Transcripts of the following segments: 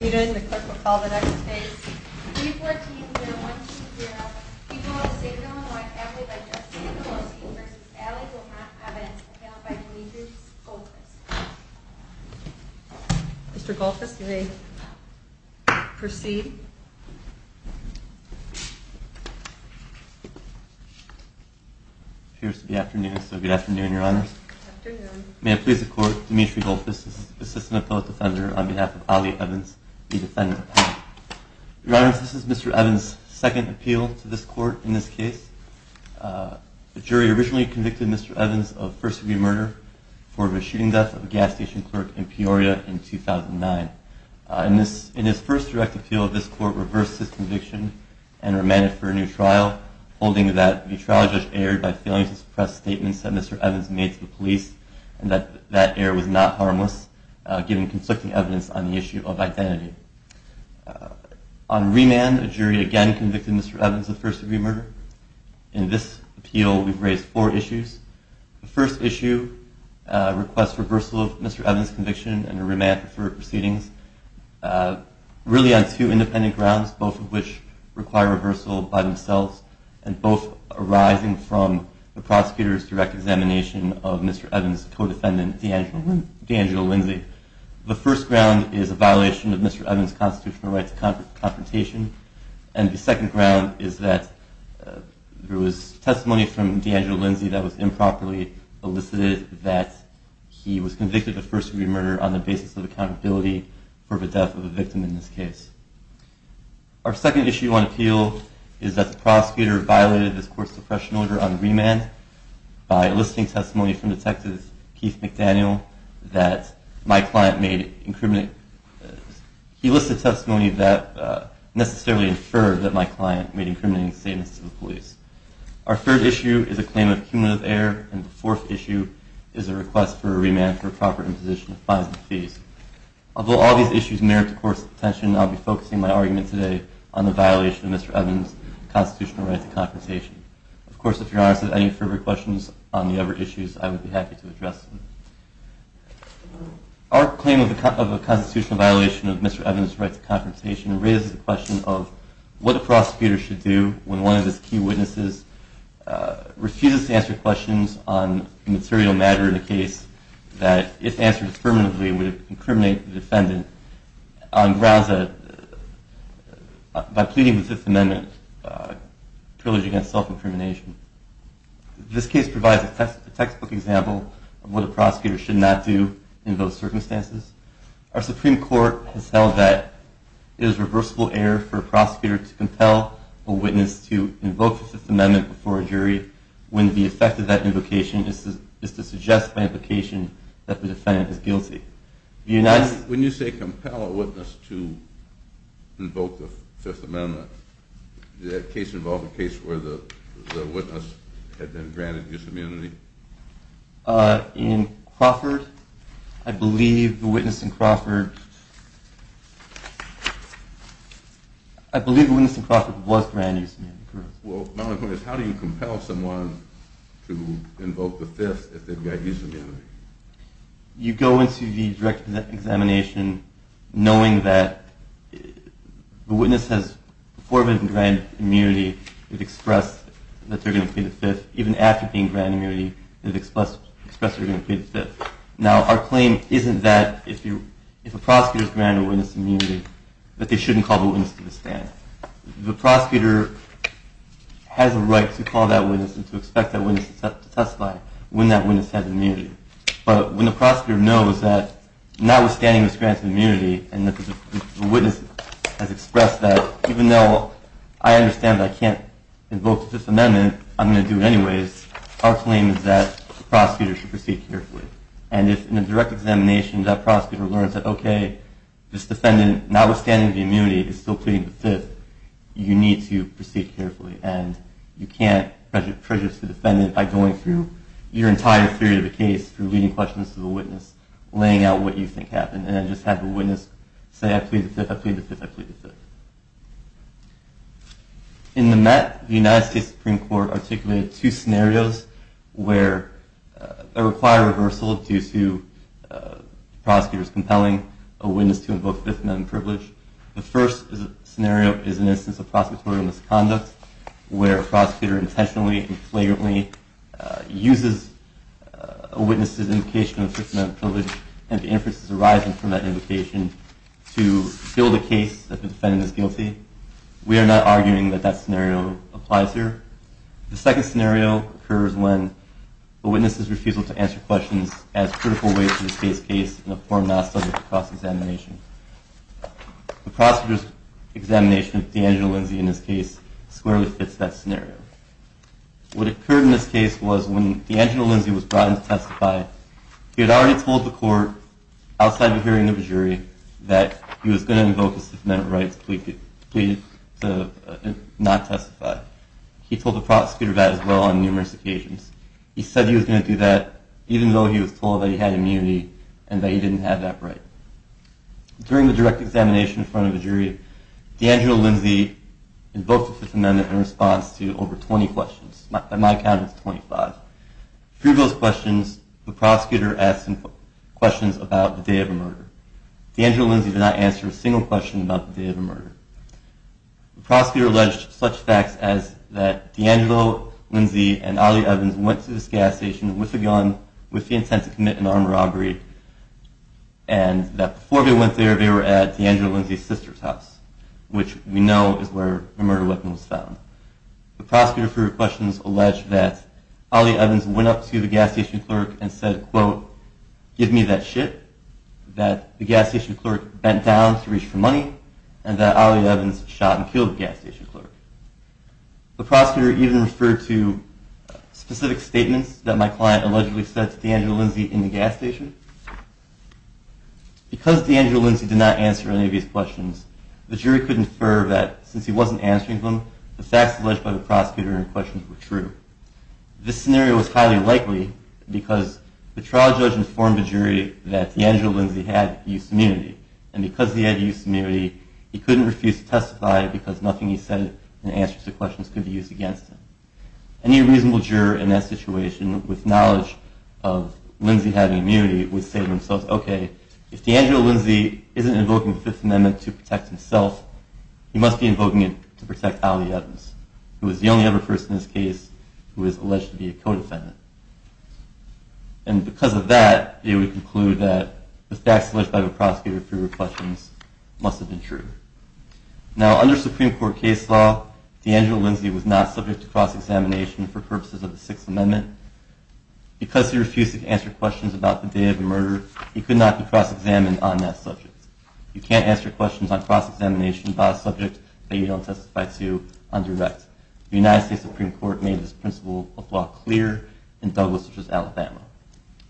The clerk will call the next case, 314-012-0. People of the State of Illinois, affidavit by Justice Kowalski v. Allie Evans, appealed by Demetrius Goldfuss. Mr. Goldfuss, you may proceed. Cheers to the afternoon. So good afternoon, Your Honors. Afternoon. May it please the Court, Demetrius Goldfuss, assistant appellate defender on behalf of Allie Evans, the defendant. Your Honors, this is Mr. Evans' second appeal to this court in this case. The jury originally convicted Mr. Evans of first-degree murder for the shooting death of a gas station clerk in Peoria in 2009. In his first direct appeal, this court reversed his conviction and remanded for a new trial, holding that the trial judge erred by failing to suppress statements that Mr. Evans made to the police and that that error was not harmless, given conflicting evidence on the issue of identity. On remand, a jury again convicted Mr. Evans of first-degree murder. In this appeal, we've raised four issues. The first issue requests reversal of Mr. Evans' conviction and a remand for proceedings, really on two independent grounds, both of which from the prosecutor's direct examination of Mr. Evans' co-defendant, D'Angelo Lindsay. The first ground is a violation of Mr. Evans' constitutional right to confrontation. And the second ground is that there was testimony from D'Angelo Lindsay that was improperly elicited that he was convicted of first-degree murder on the basis of accountability for the death of a victim in this case. Our second issue on appeal is that the prosecutor violated this court's suppression order on remand by eliciting testimony from Detective Keith McDaniel that my client made incriminating. He listed testimony that necessarily inferred that my client made incriminating statements to the police. Our third issue is a claim of cumulative error. And the fourth issue is a request for a remand for proper imposition of fines and fees. Although all these issues merit the court's attention, I'll be focusing my argument today on the violation of Mr. Evans' constitutional right to confrontation. Of course, if you're honest with any further questions on the other issues, I would be happy to address them. Our claim of a constitutional violation of Mr. Evans' right to confrontation raises the question of what a prosecutor should do when one of his key witnesses refuses to answer questions on a material matter in a case that, if answered affirmatively, would incriminate the defendant on grounds that, by pleading the Fifth Amendment, privilege against self-incrimination. This case provides a textbook example of what a prosecutor should not do in those circumstances. Our Supreme Court has held that it is reversible error for a prosecutor to compel a witness to invoke the Fifth Amendment before a jury when the effect of that invocation is to suggest by implication that the defendant is guilty. When you say compel a witness to invoke the Fifth Amendment, did that case involve a case where the witness had been granted dis-immunity? In Crawford, I believe the witness in Crawford I believe the witness in Crawford was granted dis-immunity. Well, my only question is, how do you compel someone to invoke the Fifth if they've got dis-immunity? You go into the direct examination knowing that the witness has, before being granted immunity, expressed that they're going to plead the Fifth. Even after being granted immunity, they've expressed they're going to plead the Fifth. Now, our claim isn't that, if a prosecutor's granted a witness immunity, that they shouldn't call the witness to the stand. The prosecutor has a right to call that witness and to expect that witness to testify when that witness has immunity. But when the prosecutor knows that notwithstanding this grant of immunity, and the witness has expressed that, even though I understand I can't invoke the Fifth Amendment, I'm going to do it anyways, our claim is that the prosecutor should proceed carefully. And if, in a direct examination, that prosecutor learns that, OK, this defendant, notwithstanding the immunity, is still pleading the Fifth, you need to proceed carefully. And you can't prejudice the defendant by going through your entire theory of the case through leading questions to the witness, laying out what you think happened. And then just have the witness say, I plead the Fifth, I plead the Fifth, I plead the Fifth. In the Met, the United States Supreme Court articulated two scenarios where a required reversal due to the prosecutor's compelling a witness to invoke the Fifth Amendment privilege. The first scenario is an instance of prosecutorial misconduct, where a prosecutor intentionally and flagrantly uses a witness's indication of the Fifth Amendment privilege. And the inference is arising from that indication to fill the case that the defendant is guilty. We are not arguing that that scenario applies here. The second scenario occurs when the witness is refusal to answer questions as critical weight to the case case in a form not subject to cross-examination. The prosecutor's examination of D'Angelo Lindsay in this case squarely fits that scenario. What occurred in this case was when D'Angelo Lindsay was brought in to testify, he had already told the court outside the hearing of the jury that he was going to invoke his Fifth Amendment rights to plead to not testify. He told the prosecutor that as well on numerous occasions. He said he was going to do that even though he was told that he had immunity and that he didn't have that right. During the direct examination in front of the jury, D'Angelo Lindsay invoked the Fifth Amendment in response to over 20 questions. On my count, it's 25. Through those questions, the prosecutor asked him questions about the day of the murder. D'Angelo Lindsay did not answer a single question about the day of the murder. The prosecutor alleged such facts as that D'Angelo Lindsay and Ali Evans went to this gas station with a gun with the intent to commit an armed robbery and that before they went there, they were at D'Angelo Lindsay's sister's house, which we know is where the murder weapon was found. The prosecutor, through her questions, alleged that Ali Evans went up to the gas station clerk and said, quote, give me that shit, that the gas station clerk bent down to reach for money, and that Ali Evans shot and killed the gas station clerk. The prosecutor even referred to specific statements that my client allegedly said to D'Angelo Lindsay in the gas station. Because D'Angelo Lindsay did not answer any of these questions, the jury could infer that since he wasn't answering them, the facts alleged by the prosecutor in question were true. This scenario was highly likely because the trial judge informed the jury that D'Angelo Lindsay had use immunity. And because he had use immunity, he couldn't refuse to testify because nothing he said in answer to questions could be used against him. Any reasonable juror in that situation with knowledge of Lindsay having immunity would say to themselves, OK, if D'Angelo Lindsay isn't invoking the Fifth Amendment to protect himself, he must be invoking it to protect Ali Evans, who is the only other person in this case who is alleged to be a co-defendant. And because of that, they would conclude that the facts alleged by the prosecutor for your questions must have been true. Now, under Supreme Court case law, D'Angelo Lindsay was not subject to cross-examination for purposes of the Sixth Amendment. Because he refused to answer questions about the day of the murder, he could not be cross-examined on that subject. You can't answer questions on cross-examination about a subject that you don't testify to under write. The United States Supreme Court made this principle of law clear in Douglas v. Alabama.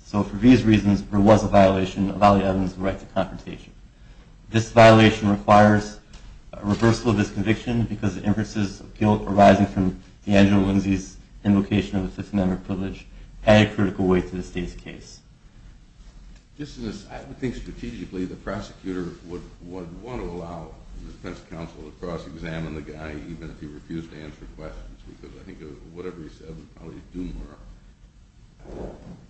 So for these reasons, there was a violation of Ali Evans' right to confrontation. This violation requires a reversal of this conviction because the inferences of guilt arising from D'Angelo Lindsay's invocation of the Fifth Amendment privilege add a critical weight to the state's case. Just as I think strategically, the prosecutor would want to allow the defense counsel to cross-examine the guy, even if he refused to answer questions. Because I think whatever he said would probably doom her.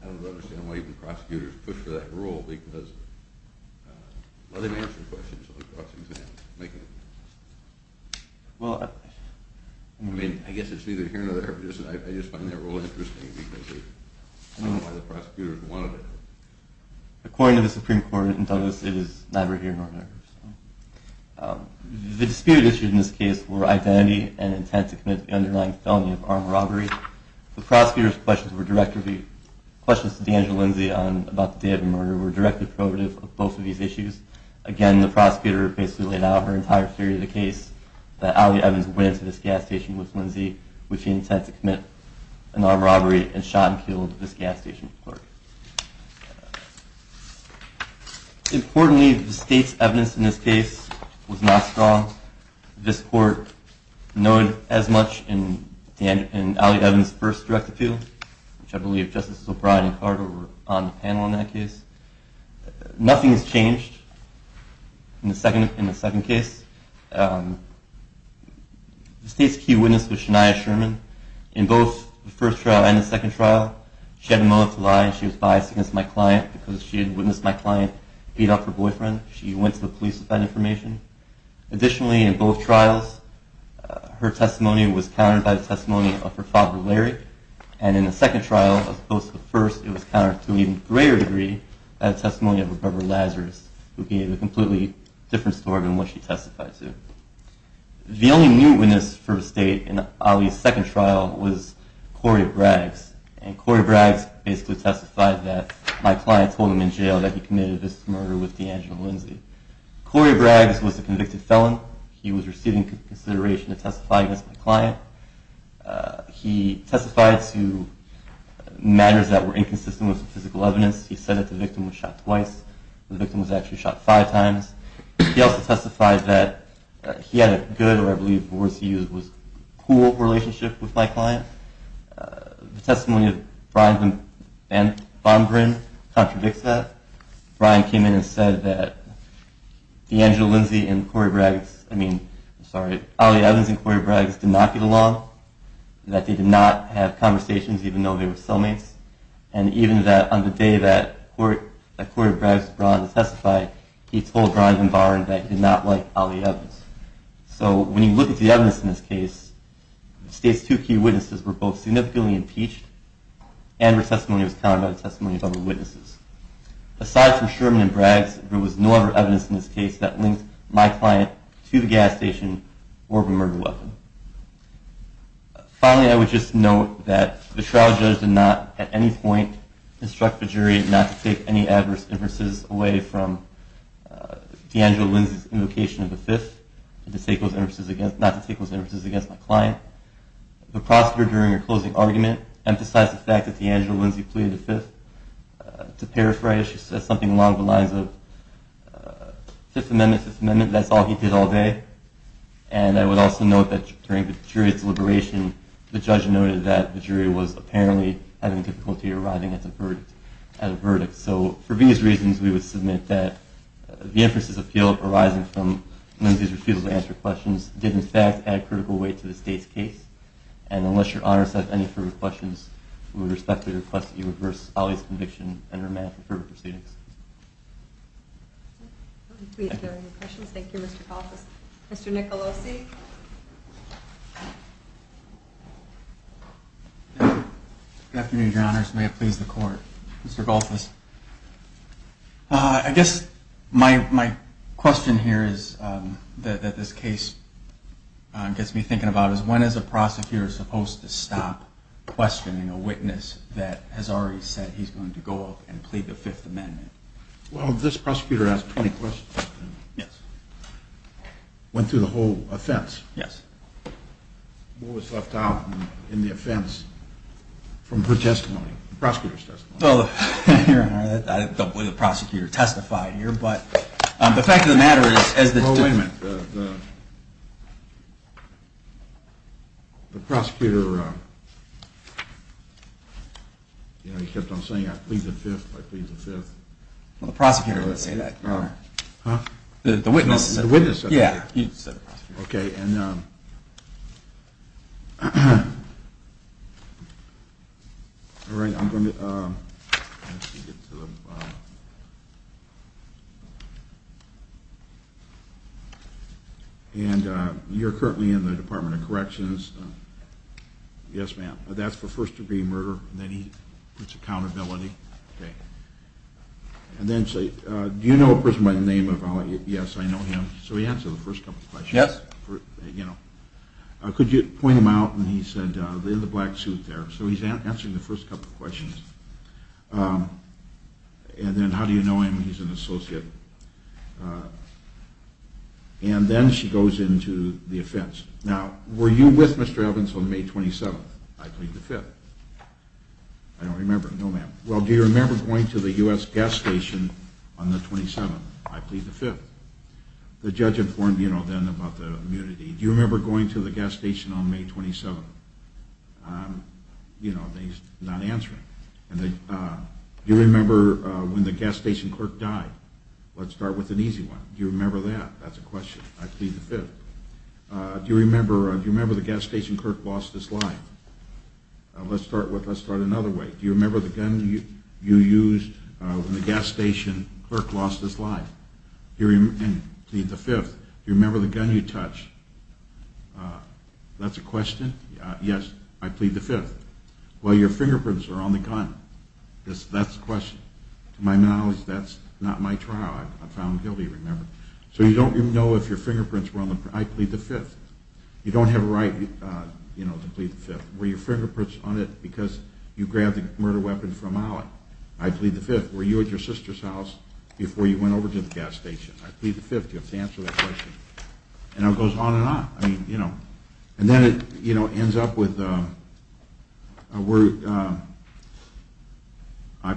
I don't understand why even prosecutors push for that rule. Because let him answer questions on the cross-examination. Well, I mean, I guess it's neither here nor there. I just find that rule interesting because I don't know why the prosecutor would want to do it. According to the Supreme Court in Douglas, it is neither here nor there. The dispute issued in this case were identity and intent to commit the underlying felony of armed robbery. The prosecutor's questions to D'Angelo Lindsay on about the day of the murder were directly prohibitive of both of these issues. Again, the prosecutor basically laid out her entire theory of the case, that Ali Evans went into this gas station with Lindsay with the intent to commit an armed robbery and shot and killed this gas station clerk. Importantly, the state's evidence in this case was not strong. This court noted as much in Ali Evans' first direct appeal, which I believe Justice O'Brien and Carter were on the panel in that case. Nothing has changed in the second case. The state's key witness was Shania Sherman. In both the first trial and the second trial, she had a motive to lie and she was biased against my client because she had witnessed my client beat up her boyfriend. She went to the police with that information. Additionally, in both trials, her testimony was countered by the testimony of her father, Larry. And in the second trial, as opposed to the first, it was countered to an even greater degree by the testimony of her brother, Lazarus, who gave a completely different story than what she testified to. The only new witness for the state in Ali's second trial was Corey Braggs. And Corey Braggs basically testified that my client told him in jail that he committed this murder with D'Angelo Lindsay. Corey Braggs was a convicted felon. He was receiving consideration to testify against my client. He testified to matters that were inconsistent with the physical evidence. He said that the victim was shot twice. The victim was actually shot five times. He also testified that he had a good, or I believe the words he used was, cool relationship with my client. The testimony of Brian Van Bombrin contradicts that. Brian came in and said that D'Angelo Lindsay and Corey Braggs, I mean, I'm sorry, Ali Evans and Corey Braggs did not get along, that they did not have conversations, even though they were cellmates. And even that on the day that Corey Braggs brought in to testify, he told Brian Van Bombrin that he did not like Ali Evans. So when you look at the evidence in this case, the state's two key witnesses were both significantly impeached, and their testimony was countered by the testimony of other witnesses. Aside from Sherman and Braggs, there was no other evidence in this case that linked my client to the gas station or of a murder weapon. Finally, I would just note that the trial judge did not, at any point, instruct the jury not to take any adverse inferences away from D'Angelo Lindsay's invocation of the Fifth, not to take those inferences against my client. The prosecutor, during her closing argument, emphasized the fact that D'Angelo Lindsay pleaded the Fifth. To paraphrase, she said something along the lines of Fifth Amendment, Fifth Amendment, that's all he did all day. And I would also note that during the jury's deliberation, the judge noted that the jury was apparently having difficulty arriving at a verdict. So for these reasons, we would submit that the inference's appeal arising from Lindsay's refusal to answer questions did, in fact, add critical weight to the state's case. And unless Your Honor has any further questions, we would respectfully request that you reverse Ali's conviction and remand for further proceedings. If there are any questions, thank you, Mr. Koffes. Mr. Nicolosi? Good afternoon, Your Honors. May it please the court. Mr. Koffes, I guess my question here is that this case gets me thinking about is, when is a prosecutor supposed to stop questioning a witness that has already said he's going to go up and plead the Fifth Amendment? Well, this prosecutor has 20 questions. Yes. Went through the whole offense. Yes. What was left out in the offense from her testimony, the prosecutor's testimony? Well, Your Honor, I don't believe the prosecutor testified here, but the fact of the matter is, as the judge Well, wait a minute. The prosecutor, you know, he kept on saying, I plead the Fifth, I plead the Fifth. Well, the prosecutor didn't say that, Your Honor. Huh? The witness said that. The witness said that. Yeah, he said the prosecutor. OK, and you're currently in the Department of Corrections. Yes, ma'am. That's for first degree murder. Then he puts accountability. And then, do you know a person by the name of, yes, I know him. So he answered the first couple of questions. Yes. Could you point him out? And he said, in the black suit there. So he's answering the first couple of questions. And then, how do you know him? He's an associate. And then she goes into the offense. Now, were you with Mr. Evans on May 27th? I plead the Fifth. I don't remember. No, ma'am. Well, do you remember going to the US gas station on the 27th? I plead the Fifth. The judge informed, you know, then about the immunity. Do you remember going to the gas station on May 27th? You know, and he's not answering. And then, do you remember when the gas station clerk died? Let's start with an easy one. Do you remember that? That's a question. I plead the Fifth. Do you remember the gas station clerk lost his life? Let's start another way. Do you remember the gun you used when the gas station clerk lost his life? I plead the Fifth. Do you remember the gun you touched? That's a question. Yes, I plead the Fifth. Well, your fingerprints are on the gun. That's the question. To my knowledge, that's not my trial. I'm found guilty, remember. So you don't even know if your fingerprints were on the gun. I plead the Fifth. You don't have a right to plead the Fifth. Were your fingerprints on it because you grabbed the murder weapon from Alec? I plead the Fifth. Were you at your sister's house before you went to the gas station? I plead the Fifth. You have to answer that question. And it goes on and on. And then it ends up with, I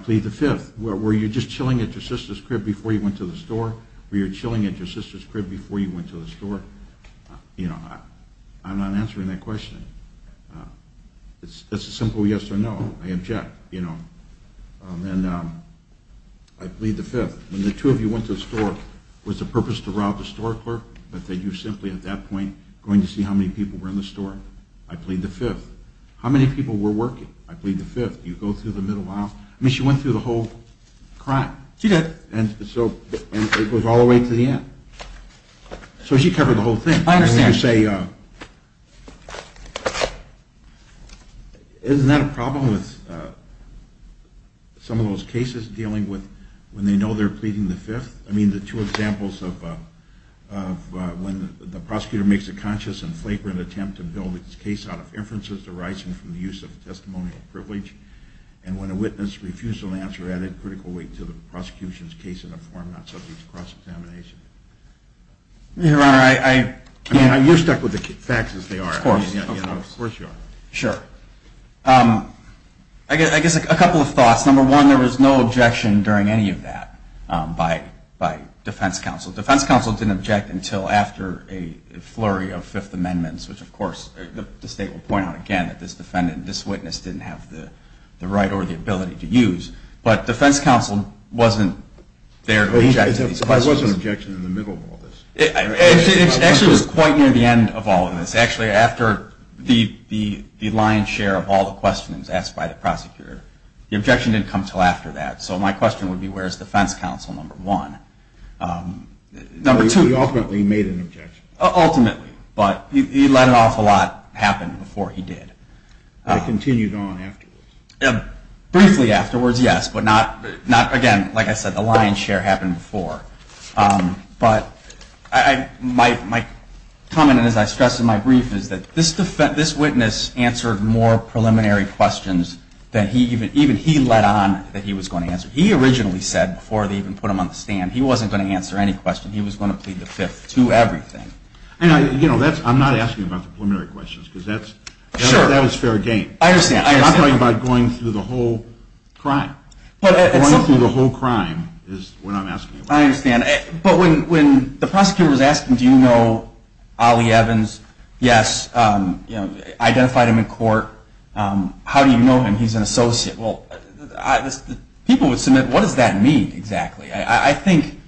plead the Fifth. Were you just chilling at your sister's crib before you went to the store? Were you chilling at your sister's crib before you went to the store? I'm not answering that question. That's a simple yes or no. I object. And I plead the Fifth. When the two of you went to the store, was the purpose to rob the store clerk? But that you were simply, at that point, going to see how many people were in the store? I plead the Fifth. How many people were working? I plead the Fifth. You go through the middle aisle. I mean, she went through the whole crime. She did. And so it goes all the way to the end. So she covered the whole thing. I understand. And you say, isn't that a problem with some of those cases dealing with when they know they're pleading the Fifth? I mean, the two examples of when the prosecutor makes a conscious and flagrant attempt to build his case out of inferences arising from the use of testimonial privilege, and when a witness refused to answer added critical weight to the prosecution's case in a form not subject to cross-examination. Your Honor, I can't. You're stuck with the facts, as they are. Of course. Of course you are. Sure. I guess a couple of thoughts. Number one, there was no objection during any of that by defense counsel. Defense counsel didn't object until after a flurry of Fifth Amendments, which, of course, the state will point out again that this witness didn't have the right or the ability to use. But defense counsel wasn't there to object to these questions. But there was an objection in the middle of all this. It actually was quite near the end of all of this. Actually, after the lion's share of all the questions asked by the prosecutor, the objection didn't come until after that. So my question would be, where's defense counsel number one? Number two. He ultimately made an objection. Ultimately. But he let an awful lot happen before he did. But it continued on afterwards. Briefly afterwards, yes. But not, again, like I said, the lion's share happened before. But my comment, and as I stressed in my brief, is that this witness answered more preliminary questions than even he let on that he was going to answer. He originally said, before they even put him on the stand, he wasn't going to answer any question. He was going to plead the Fifth to everything. I'm not asking about the preliminary questions, because that was fair game. I understand. I'm talking about going through the whole crime. Going through the whole crime is what I'm asking about. I understand. But when the prosecutor was asking, do you know Ollie Evans? Yes. Identified him in court. How do you know him? He's an associate. Well, people would submit, what does that mean, exactly? I think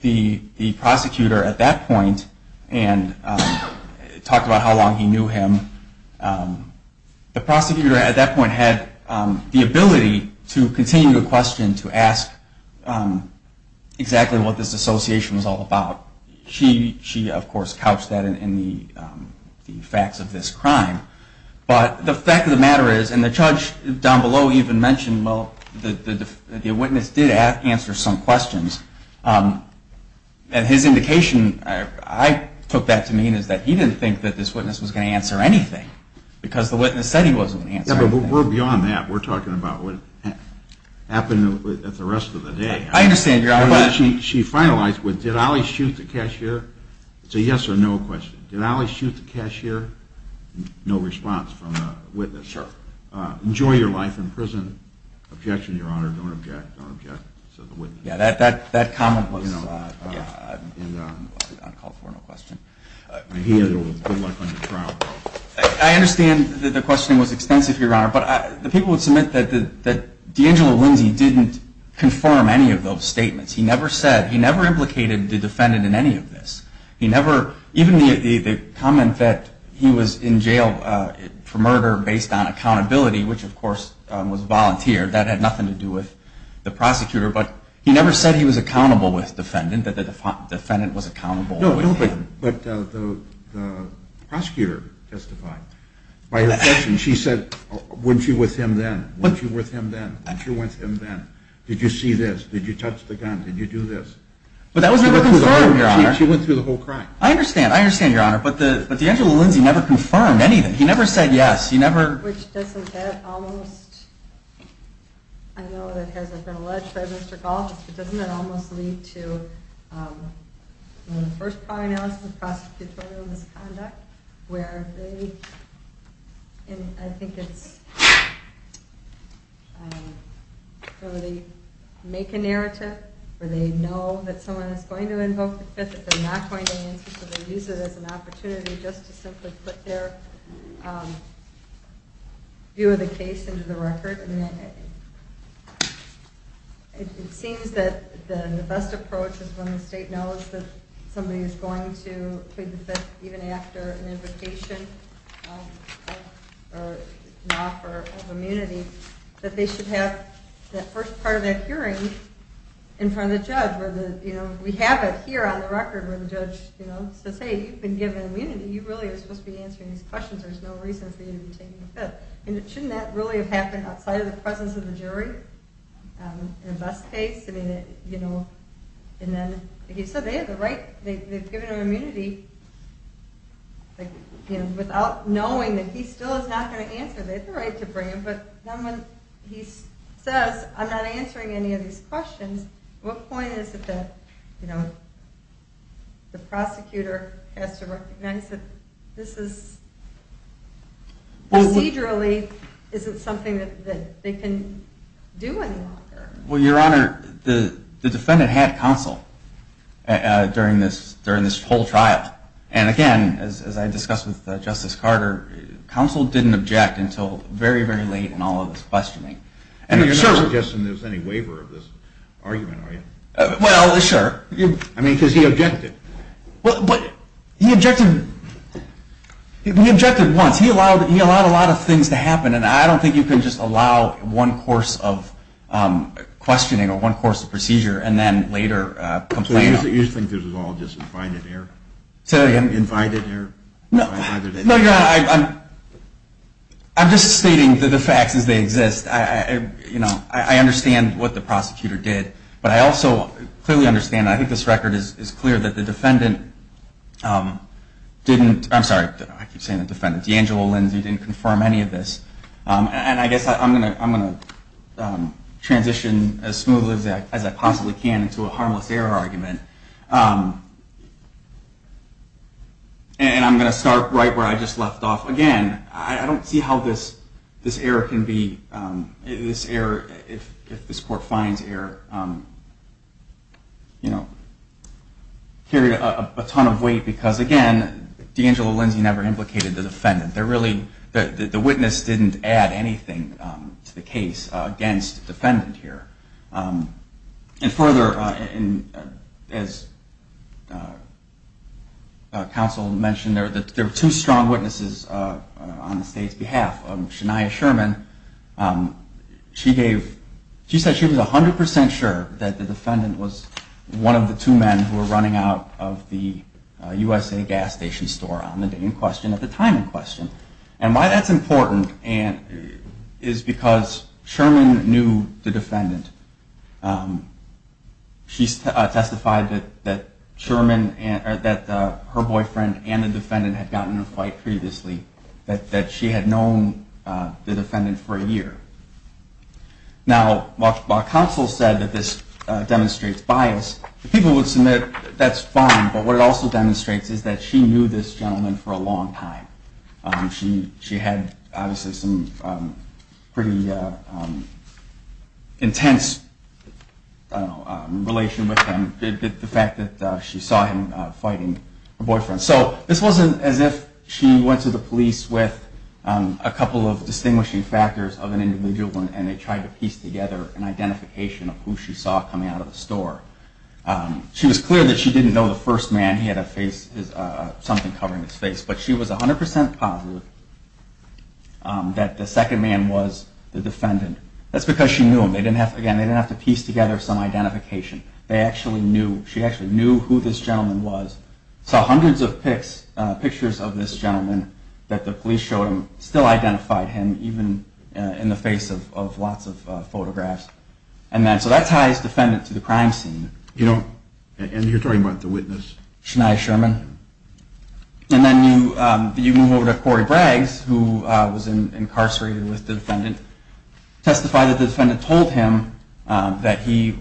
the prosecutor at that point, and talk about how long he knew him, the prosecutor at that point had the ability to continue the question, to ask exactly what this association was all about. She, of course, couched that in the facts of this crime. But the fact of the matter is, and the judge down below even mentioned, well, the witness did answer some questions. And his indication, I took that to mean is that he didn't think that this witness was going to answer anything, because the witness said he wasn't going to answer anything. Yeah, but we're beyond that. We're talking about what happened at the rest of the day. I understand, Your Honor. She finalized with, did Ali shoot the cashier? It's a yes or no question. Did Ali shoot the cashier? No response from the witness. Sure. Enjoy your life in prison. Objection, Your Honor. Don't object. Don't object, said the witness. Yeah, that comment was uncalled for, no question. He had good luck on the trial. I understand that the questioning was extensive, Your Honor. But the people would submit that D'Angelo Lindsay didn't confirm any of those statements. He never implicated the defendant in any of this. Even the comment that he was in jail for murder based on accountability, which, of course, was volunteered, that had nothing to do with the prosecutor. But he never said he was accountable with defendant, that the defendant was accountable with him. But the prosecutor testified. By her question, she said, weren't you with him then? Weren't you with him then? Weren't you with him then? Did you see this? Did you touch the gun? Did you do this? But that was never confirmed, Your Honor. She went through the whole crime. I understand. I understand, Your Honor. But D'Angelo Lindsay never confirmed anything. He never said yes. He never. Which doesn't get almost, I know that has been alleged by Mr. Galt, but doesn't that almost lead to the first prior analysis of prosecutorial misconduct, where they make a narrative, where they know that someone is going to invoke the Fifth, that they're not going to answer. So they use it as an opportunity just to simply put their view of the case into the record. And it seems that the best approach is when the state knows that somebody is going to plead the Fifth, even after an invocation or an offer of immunity, that they should have that first part of that hearing in front of the judge, where we have it here on the record, where the judge says, hey, you've been given immunity. You really are supposed to be answering these questions. There's no reason for you to be taking the Fifth. And shouldn't that really have happened outside of the presence of the jury in the best case? I mean, and then, like you said, they have the right. They've given him immunity without knowing that he still is not going to answer. They have the right to bring him. But then when he says, I'm not answering any of these questions, what point is it that the prosecutor has to recognize that this is, procedurally, is it something that they can do any longer? Well, Your Honor, the defendant had counsel during this whole trial. And again, as I discussed with Justice Carter, counsel didn't object until very, very late in all of this questioning. And you're not suggesting there's any waiver of this argument, are you? Well, sure. I mean, because he objected. But he objected once. He allowed a lot of things to happen. And I don't think you can just allow one course of questioning or one course of procedure and then later complain. So you just think this was all just invited error? Invited error? No, Your Honor, I'm just stating that the facts as they exist. I understand what the prosecutor did. But I also clearly understand, I think this record is clear, that the defendant didn't, I'm sorry, I keep saying the defendant, D'Angelo Lindsay didn't confirm any of this. And I guess I'm going to transition as smoothly as I possibly can into a harmless error argument. And I'm going to start right where I just left off. Again, I don't see how this error can be, this error, if this court finds error, carried a ton of weight. Because again, D'Angelo Lindsay never implicated the defendant. The witness didn't add anything to the case against the defendant here. And further, as counsel mentioned, there were two strong witnesses on the state's behalf. Shania Sherman, she said she was 100% sure that the defendant was one of the two men who were running out of the USA Gas Station store on the day in question, at the time in question. And why that's important is because Sherman knew the defendant. She testified that Sherman, that her boyfriend and the defendant had gotten in a fight previously, that she had known the defendant for a year. Now, while counsel said that this demonstrates bias, people would submit that's fine, but what it also demonstrates is that she knew this gentleman for a long time. She had, obviously, some pretty intense relation with him, the fact that she saw him fighting her boyfriend. So this wasn't as if she went to the police with a couple of distinguishing factors of an individual and they tried to piece together an identification of who she saw coming out of the store. She was clear that she didn't know the first man. He had a face, something covering his face. But she was 100% positive that the second man was the defendant. That's because she knew him. They didn't have to piece together some identification. They actually knew. She actually knew who this gentleman was. Saw hundreds of pictures of this gentleman that the police showed him, still identified him, even in the face of lots of photographs. And so that ties defendant to the crime scene. And you're talking about the witness. Shania Sherman. And then you move over to Corey Braggs, who was incarcerated with the defendant. Testified that the defendant told him that the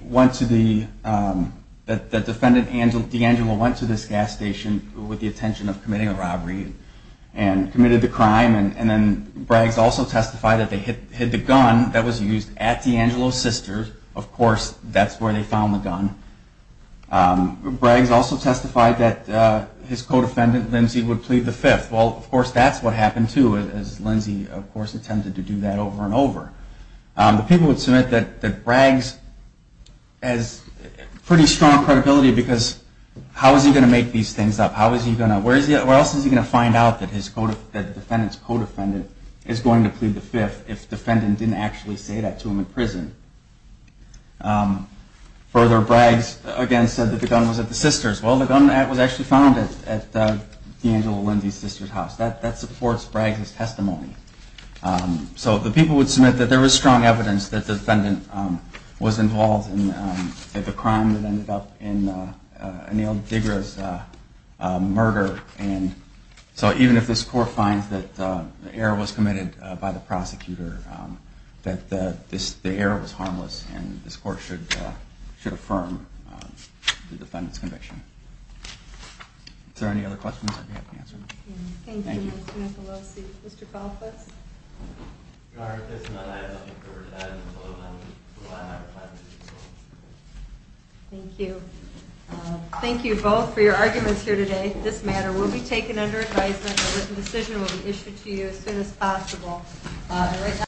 defendant, D'Angelo, went to this gas station with the intention of committing a robbery and committed the crime. And then Braggs also testified that they hid the gun that was used at D'Angelo's sister's. Of course, that's where they found the gun. Braggs also testified that his co-defendant, Lindsay, would plead the fifth. Well, of course, that's what happened, too, as Lindsay, of course, attempted to do that over and over. The people would submit that Braggs has pretty strong credibility, because how is he going to make these things up? How is he going to, where else is he going to find out that the defendant's co-defendant is going to plead the fifth if the defendant didn't actually say that to him in prison? Further, Braggs, again, said that the gun was at the sister's. Well, the gun was actually found at D'Angelo and Lindsay's sister's house. That supports Braggs' testimony. So the people would submit that there was strong evidence that the defendant was involved in the crime that ended up in Anil Digra's murder. And so even if this court finds that the error was committed by the prosecutor, that the error was harmless, and this court should affirm the defendant's conviction. Is there any other questions I may have to answer? Thank you. Thank you, Mr. Nicolosi. Mr. Kauflitz? Your Honor, if there's none, I have nothing further to add. I just want to let you know that I have five minutes to speak. Thank you. Thank you both for your arguments here today. This matter will be taken under advisement, and a decision will be issued to you as soon as possible.